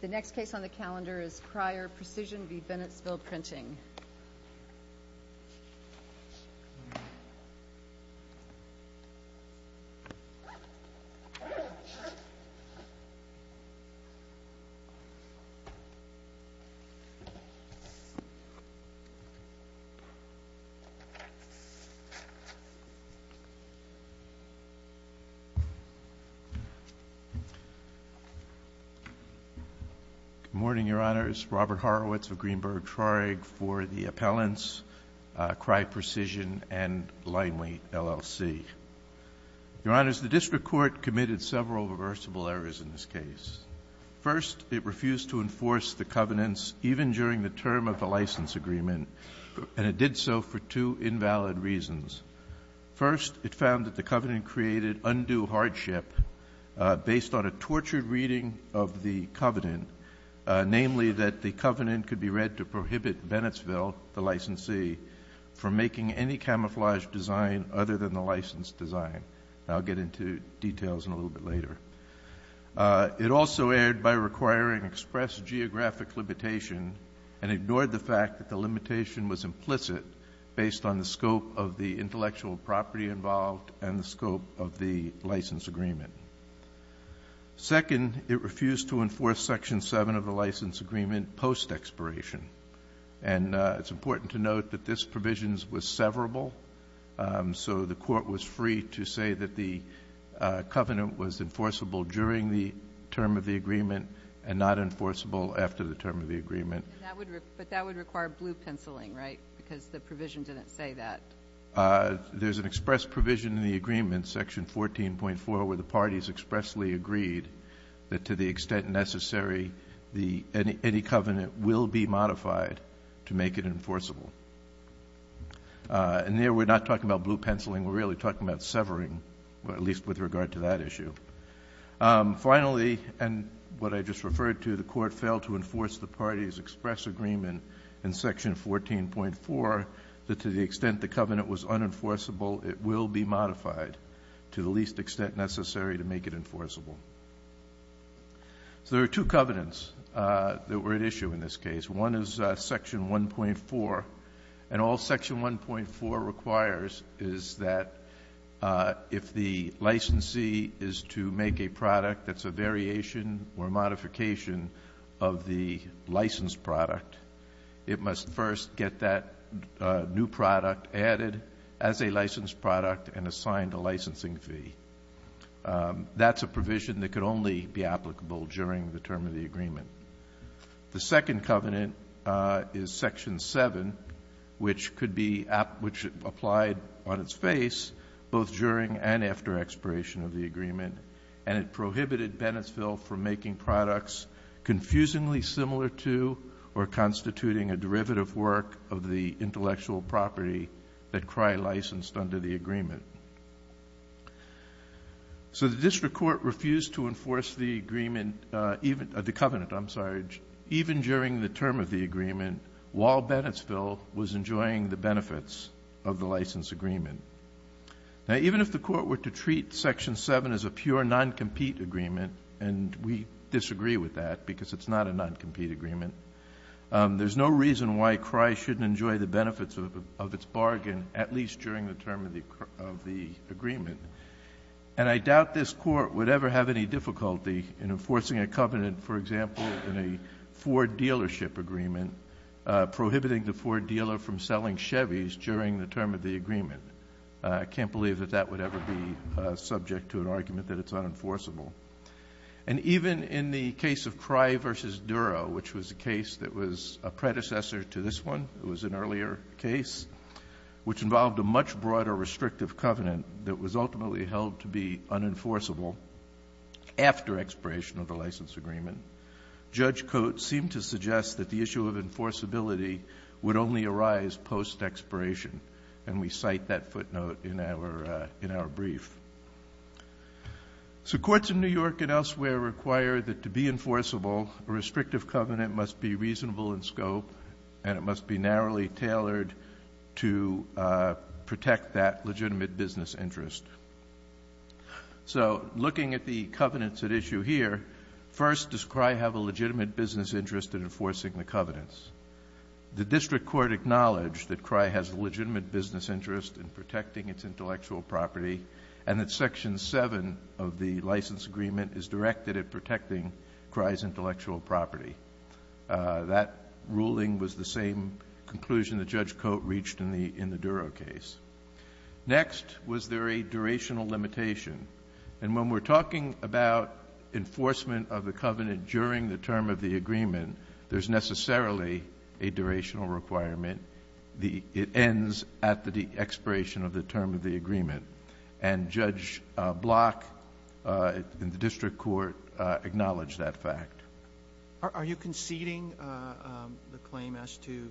The next case on the calendar is Cryer Precision v. Bennett's Bill Printing. Good morning, Your Honors. Robert Horowitz of Greenberg Traurig for the Appellants, Cry Precision, and Linely, LLC. Your Honors, the District Court committed several reversible errors in this case. First, it refused to enforce the covenants even during the term of the license agreement, and it did so for two invalid reasons. First, it found that the covenant created undue hardship based on a tortured reading of the covenant, namely that the covenant could be read to prohibit Bennettsville, the licensee, from making any camouflage design other than the license design. I'll get into details in a little bit later. It also erred by requiring express geographic limitation and ignored the fact that the limitation was implicit based on the scope of the intellectual property involved and the scope of the license agreement. Second, it refused to enforce Section 7 of the license agreement post-expiration. And it's important to note that this provision was severable, so the Court was free to say that the covenant was enforceable during the term of the agreement and not enforceable after the term of the agreement. But that would require blue-penciling, right? Because the provision didn't say that. There's an express provision in the agreement, Section 14.4, where the parties expressly agreed that to the extent necessary, any covenant will be modified to make it enforceable. And there we're not talking about blue-penciling. Finally, and what I just referred to, the Court failed to enforce the parties' express agreement in Section 14.4, that to the extent the covenant was unenforceable, it will be modified to the least extent necessary to make it enforceable. So there are two covenants that were at issue in this case. One is Section 1.4. And all Section 1.4 requires is that if the licensee is to make a product that's a variation or a modification of the licensed product, it must first get that new product added as a licensed product and assigned a licensing fee. That's a provision that could only be applicable during the term of the agreement. The second covenant is Section 7, which could be applied on its face both during and after expiration of the agreement. And it prohibited Bennettsville from making products confusingly similar to or constituting a derivative work of the intellectual property that Crye licensed under the agreement. So the district court refused to enforce the agreement, the covenant, I'm sorry, even during the term of the agreement while Bennettsville was enjoying the benefits of the license agreement. Now, even if the Court were to treat Section 7 as a pure non-compete agreement and we disagree with that because it's not a non-compete agreement, there's no reason why Crye shouldn't enjoy the benefits of its bargain at least during the term of the agreement. And I doubt this Court would ever have any difficulty in enforcing a covenant, for example, in a Ford dealership agreement, prohibiting the Ford dealer from selling Chevys during the term of the agreement. I can't believe that that would ever be subject to an argument that it's unenforceable. And even in the case of Crye v. Duro, which was a case that was a predecessor to this one, it was an earlier case, which involved a much broader restrictive covenant that was ultimately held to be unenforceable after expiration of the license agreement, Judge Coates seemed to suggest that the issue of enforceability would only arise post-expiration, and we cite that footnote in our brief. So courts in New York and elsewhere require that to be enforceable, a restrictive covenant must be reasonable in scope and it must be narrowly tailored to protect that legitimate business interest. So looking at the covenants at issue here, first does Crye have a legitimate business interest in enforcing the covenants? The district court acknowledged that Crye has a legitimate business interest in protecting its intellectual property and that Section 7 of the license agreement is directed at protecting Crye's intellectual property. That ruling was the same conclusion that Judge Coates reached in the Duro case. Next, was there a durational limitation? And when we're talking about enforcement of the covenant during the term of the agreement, there's necessarily a durational requirement. It ends at the expiration of the term of the agreement. And Judge Block in the district court acknowledged that fact. Are you conceding the claim as to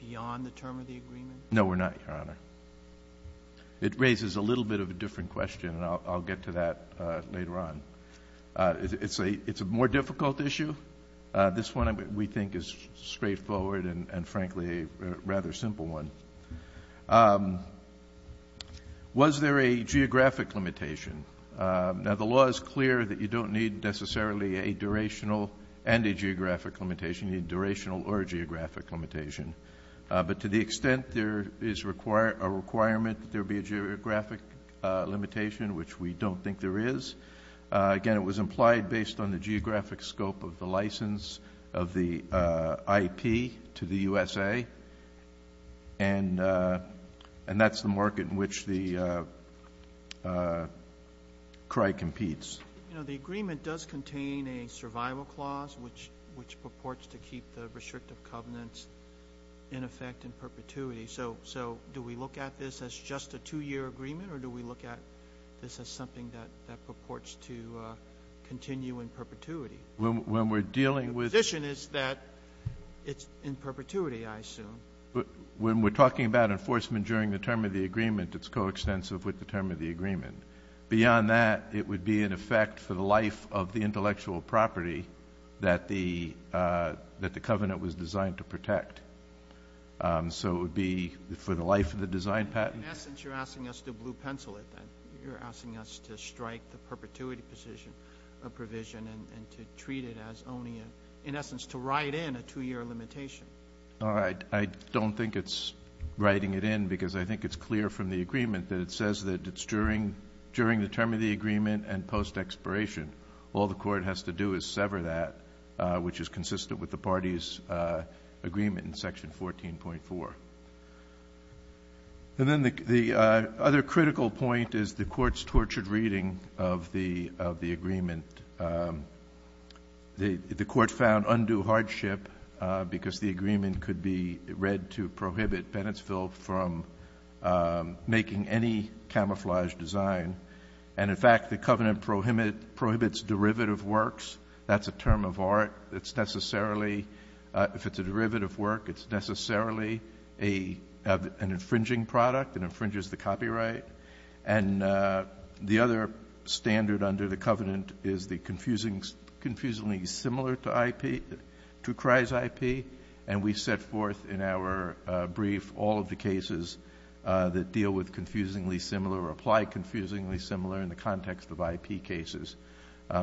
beyond the term of the agreement? No, we're not, Your Honor. It raises a little bit of a different question, and I'll get to that later on. It's a more difficult issue. This one, we think, is straightforward and, frankly, a rather simple one. Was there a geographic limitation? Now, the law is clear that you don't need necessarily a durational and a geographic limitation. You need a durational or a geographic limitation. But to the extent there is a requirement that there be a geographic limitation, which we don't think there is, again, it was implied based on the geographic scope of the license of the IP to the USA, and that's the market in which the cry competes. You know, the agreement does contain a survival clause, which purports to keep the restrictive covenants in effect in perpetuity. So do we look at this as just a two-year agreement, or do we look at this as something that purports to continue in perpetuity? When we're dealing with the position is that it's in perpetuity, I assume. When we're talking about enforcement during the term of the agreement, it's coextensive with the term of the agreement. Beyond that, it would be in effect for the life of the intellectual property that the covenant was designed to protect. So it would be for the life of the design patent. In essence, you're asking us to blue pencil it, then. You're asking us to strike the perpetuity provision and to treat it as only, in essence, to write in a two-year limitation. All right. I don't think it's writing it in because I think it's clear from the agreement that it says that it's during the term of the agreement and post-expiration. All the Court has to do is sever that, which is consistent with the party's agreement in Section 14.4. And then the other critical point is the Court's tortured reading of the agreement. The Court found undue hardship because the agreement could be read to prohibit Bennettsville from making any camouflage design. And, in fact, the covenant prohibits derivative works. That's a term of art. If it's a derivative work, it's necessarily an infringing product. It infringes the copyright. And the other standard under the covenant is the confusingly similar to IP, to Cry's IP. And we set forth in our brief all of the cases that deal with confusingly similar or apply confusingly similar in the context of IP cases.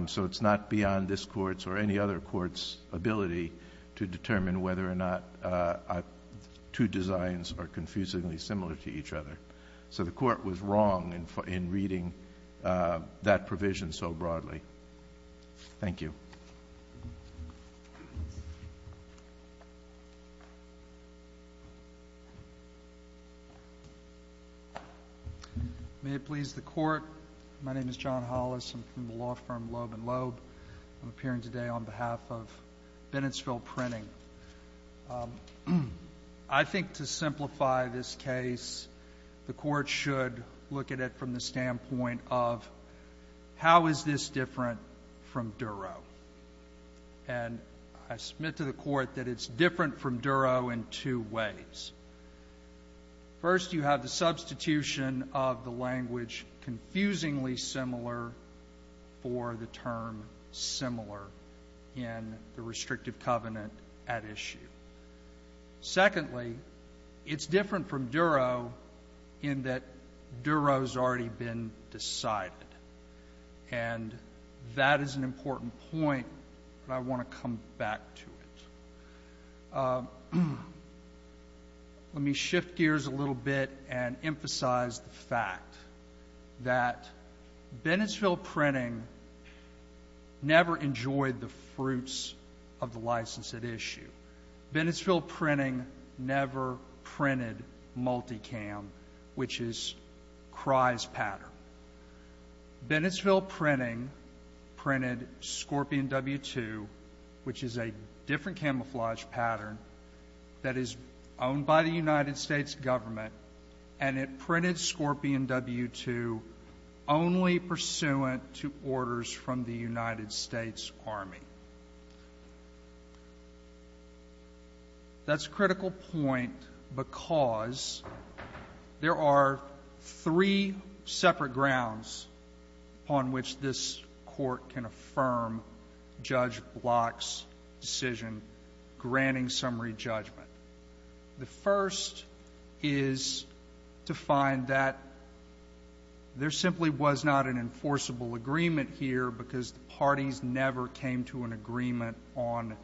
So it's not beyond this Court's or any other Court's ability to determine whether or not two designs are confusingly similar to each other. So the Court was wrong in reading that provision so broadly. Thank you. May it please the Court. My name is John Hollis. I'm from the law firm Loeb & Loeb. I'm appearing today on behalf of Bennettsville Printing. I think to simplify this case, the Court should look at it from the standpoint of, how is this different from Duro? And I submit to the Court that it's different from Duro in two ways. First, you have the substitution of the language confusingly similar for the term similar in the restrictive covenant at issue. Secondly, it's different from Duro in that Duro's already been decided. And that is an important point, but I want to come back to it. Let me shift gears a little bit and emphasize the fact that Bennettsville Printing never enjoyed the fruits of the license at issue. Bennettsville Printing never printed Multicam, which is Crye's pattern. Bennettsville Printing printed Scorpion W-2, which is a different camouflage pattern that is owned by the United States government, and it printed Scorpion W-2 only pursuant to orders from the United States Army. That's a critical point because there are three separate grounds upon which this Court can affirm Judge Block's decision granting summary judgment. The first is to find that there simply was not an enforceable agreement here because the parties never came to an agreement on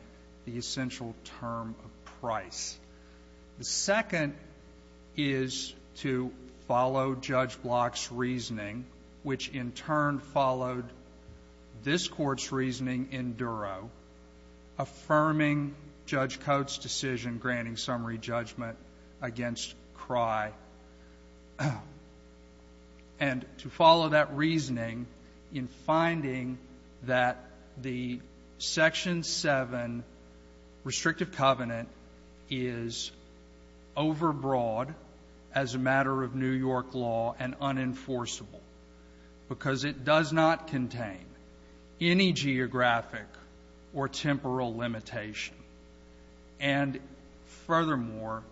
the essential term of price. The second is to follow Judge Block's reasoning, which in turn followed this Court's reasoning in Duro, affirming Judge Coates' decision granting summary judgment against Crye. And to follow that reasoning in finding that the Section 7 restrictive covenant is overbroad as a matter of New York law and unenforceable because it does not contain any geographic or temporal limitation, and furthermore,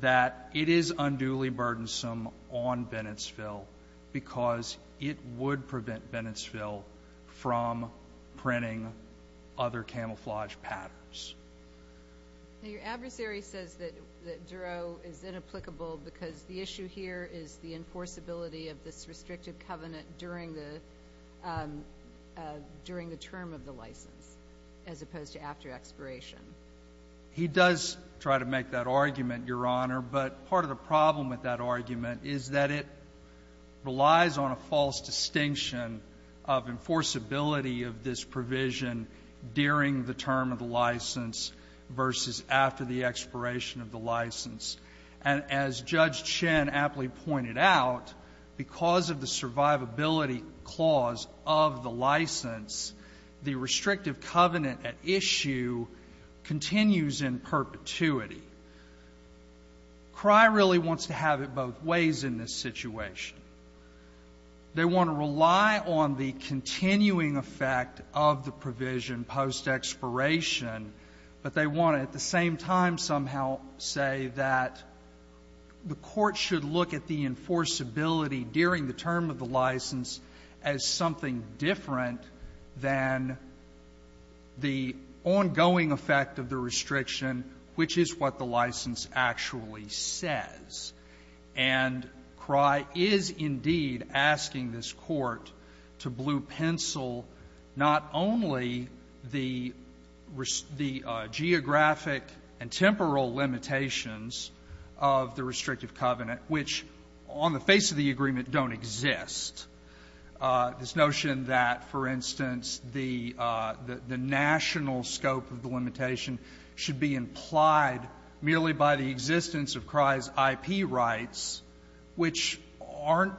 that it is unduly burdensome on Bennettsville because it would prevent Bennettsville from printing other camouflage patterns. Your adversary says that Duro is inapplicable because the issue here is the enforceability of this restrictive covenant during the term of the license as opposed to after expiration. He does try to make that argument, Your Honor, but part of the problem with that argument is that it relies on a false distinction of enforceability of this provision during the term of the license versus after the expiration of the license. And as Judge Chen aptly pointed out, because of the survivability clause of the license, the restrictive covenant at issue continues in perpetuity. Crye really wants to have it both ways in this situation. They want to rely on the continuing effect of the provision post-expiration, but they want to at the same time somehow say that the Court should look at the enforceability during the term of the license as something different than the ongoing effect of the restriction, which is what the license actually says. And Crye is indeed asking this Court to blue-pencil not only the geographic and temporal limitations of the restrictive covenant, which on the face of the agreement don't exist, this notion that, for instance, the national scope of the limitation should be implied merely by the existence of Crye's IP rights, which aren't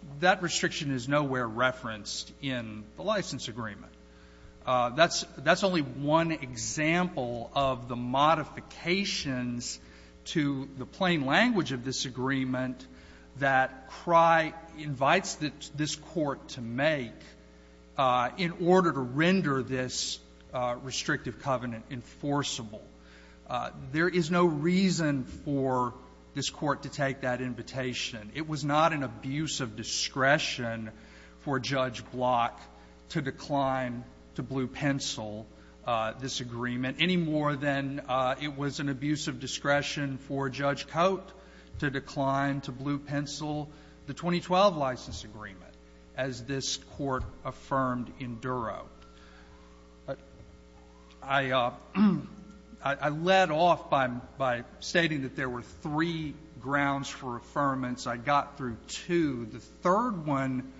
— that restriction is nowhere referenced in the license agreement. That's only one example of the modifications to the plain language of this agreement that Crye invites this Court to make in order to render this restrictive covenant enforceable. There is no reason for this Court to take that invitation. It was not an abuse of discretion for Judge Block to decline to blue-pencil this agreement any more than it was an abuse of discretion for Judge Cote to decline to blue-pencil the 2012 license agreement, as this Court affirmed in Duro. I led off by stating that there were three grounds for affirmance. I got through two. The third one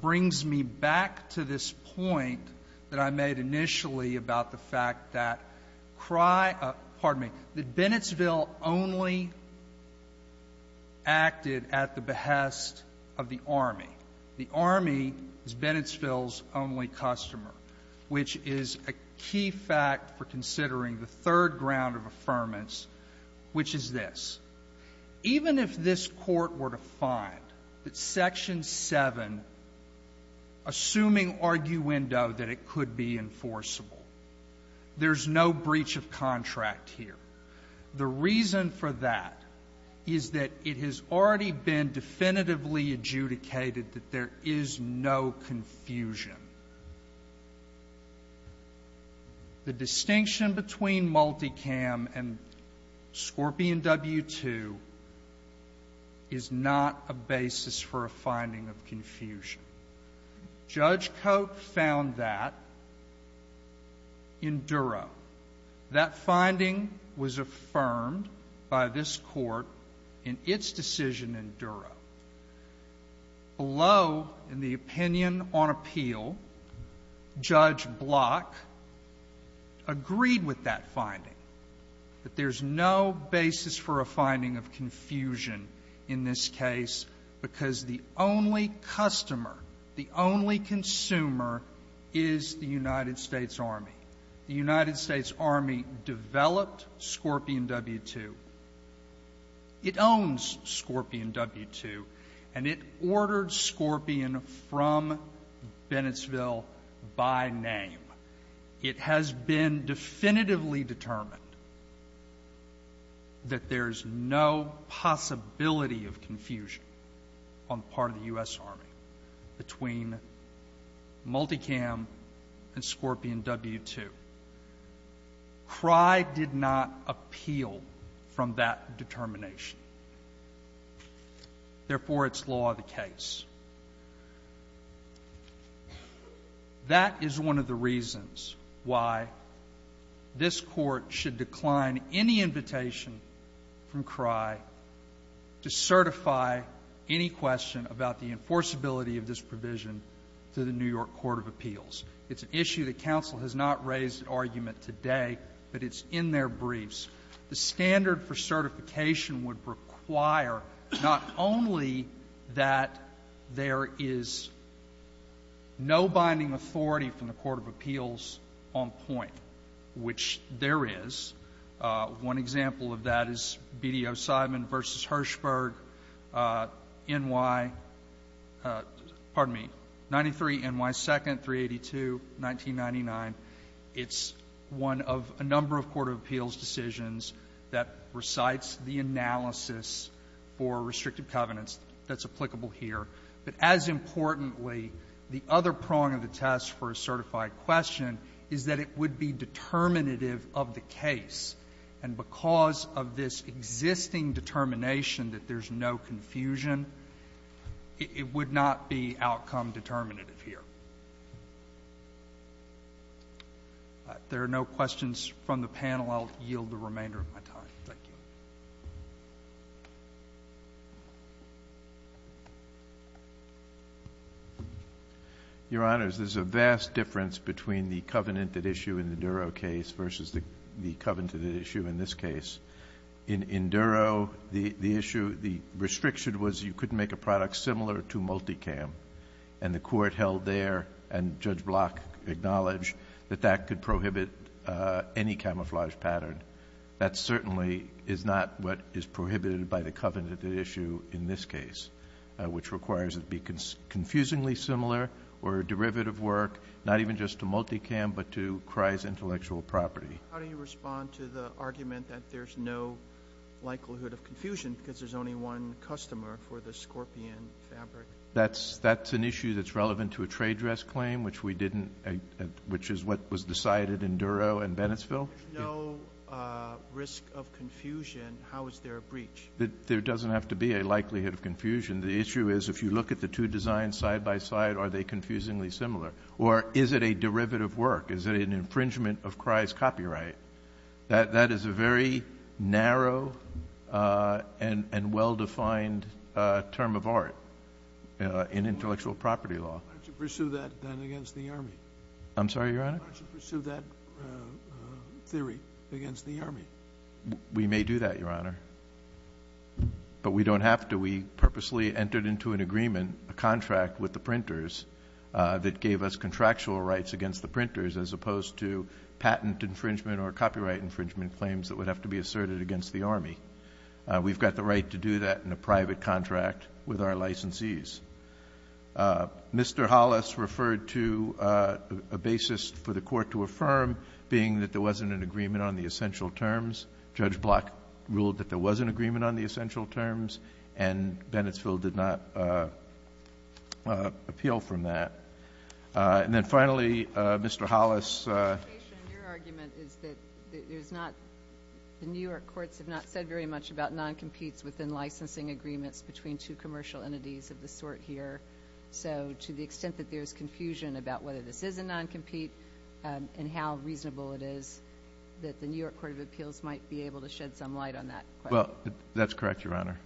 brings me back to this point that I made initially about the fact that Crye — pardon me — that Bennettsville only acted at the behest of the Army. The Army is Bennettsville's only customer, which is a key fact for considering the third ground of affirmance, which is this. Even if this Court were to find that Section 7, assuming arguendo, that it could be enforceable, there's no breach of contract here. The reason for that is that it has already been definitively adjudicated that there is no confusion. The distinction between Multicam and Scorpion W-2 is not a basis for a finding of confusion. Judge Cote found that in Duro. That finding was affirmed by this Court in its decision in Duro. Below in the opinion on appeal, Judge Block agreed with that finding, that there's no basis for a finding of confusion in this case because the only customer, the only consumer is the United States Army. The United States Army developed Scorpion W-2. It owns Scorpion W-2. And it ordered Scorpion from Bennettsville by name. It has been definitively determined that there is no possibility of confusion on the part of the U.S. Army between Multicam and Scorpion W-2. CRY did not appeal from that determination. Therefore, it's law of the case. That is one of the reasons why this Court should decline any invitation from CRY to certify any question about the enforceability of this provision to the New York Court of Appeals. It's an issue that counsel has not raised an argument today, but it's in their briefs. The standard for certification would require not only that there is no binding authority from the court of appeals on point, which there is. One example of that is BDO-Simon v. Hirshberg, N.Y. 93, N.Y. 2nd, 382, 1999. It's one of a number of court of appeals decisions that recites the analysis for restrictive covenants that's applicable here. But as importantly, the other prong of the test for a certified question is that it would be determinative of the case. And because of this existing determination that there's no confusion, it would not be outcome determinative here. If there are no questions from the panel, I'll yield the remainder of my time. Thank you. Your Honors, there's a vast difference between the covenant at issue in the Duro case versus the covenant at issue in this case. In Duro, the issue, the restriction was you couldn't make a product similar to multicam, and the court held there and Judge Block acknowledged that that could prohibit any camouflage pattern. That certainly is not what is prohibited by the covenant at issue in this case, which requires it be confusingly similar or a derivative work, not even just to multicam, but to Kreis intellectual property. How do you respond to the argument that there's no likelihood of confusion because there's only one customer for the Scorpion fabric? That's an issue that's relevant to a trade dress claim, which we didn't, which is what was decided in Duro and Bennettsville. No risk of confusion. How is there a breach? There doesn't have to be a likelihood of confusion. The issue is if you look at the two designs side by side, are they confusingly similar, or is it a derivative work? Is it an infringement of Kreis copyright? That is a very narrow and well-defined term of art in intellectual property law. Why don't you pursue that then against the Army? I'm sorry, Your Honor? Why don't you pursue that theory against the Army? We may do that, Your Honor, but we don't have to. We purposely entered into an agreement, a contract with the printers, infringement claims that would have to be asserted against the Army. We've got the right to do that in a private contract with our licensees. Mr. Hollis referred to a basis for the Court to affirm being that there wasn't an agreement on the essential terms. Judge Block ruled that there was an agreement on the essential terms, and Bennettsville did not appeal from that. And then finally, Mr. Hollis ---- Your argument is that there's not ñ the New York courts have not said very much about noncompetes within licensing agreements between two commercial entities of this sort here. So to the extent that there's confusion about whether this is a noncompete and how reasonable it is, that the New York Court of Appeals might be able to shed some light on that question. Well, that's correct, Your Honor.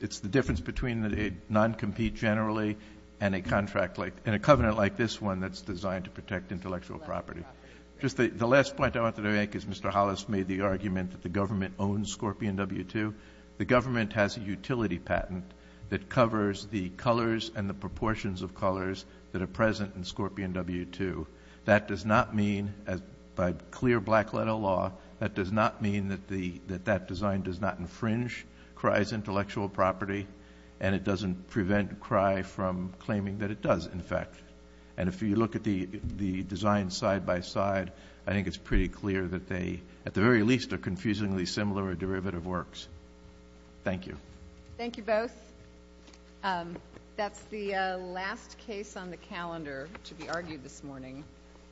It's the difference between a noncompete generally and a contract like ñ and a covenant like this one that's designed to protect intellectual property. The last point I want to make is Mr. Hollis made the argument that the government owns Scorpion W-2. The government has a utility patent that covers the colors and the proportions of colors that are present in Scorpion W-2. That does not mean, by clear black letter law, that does not mean that that design does not infringe Cry's intellectual property, and it doesn't prevent Cry from claiming that it does, in fact. And if you look at the designs side by side, I think it's pretty clear that they, at the very least, are confusingly similar derivative works. Thank you. Thank you both. That's the last case on the calendar to be argued this morning.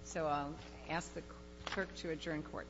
So I'll ask the clerk to adjourn court. Court is adjourned. Thank you.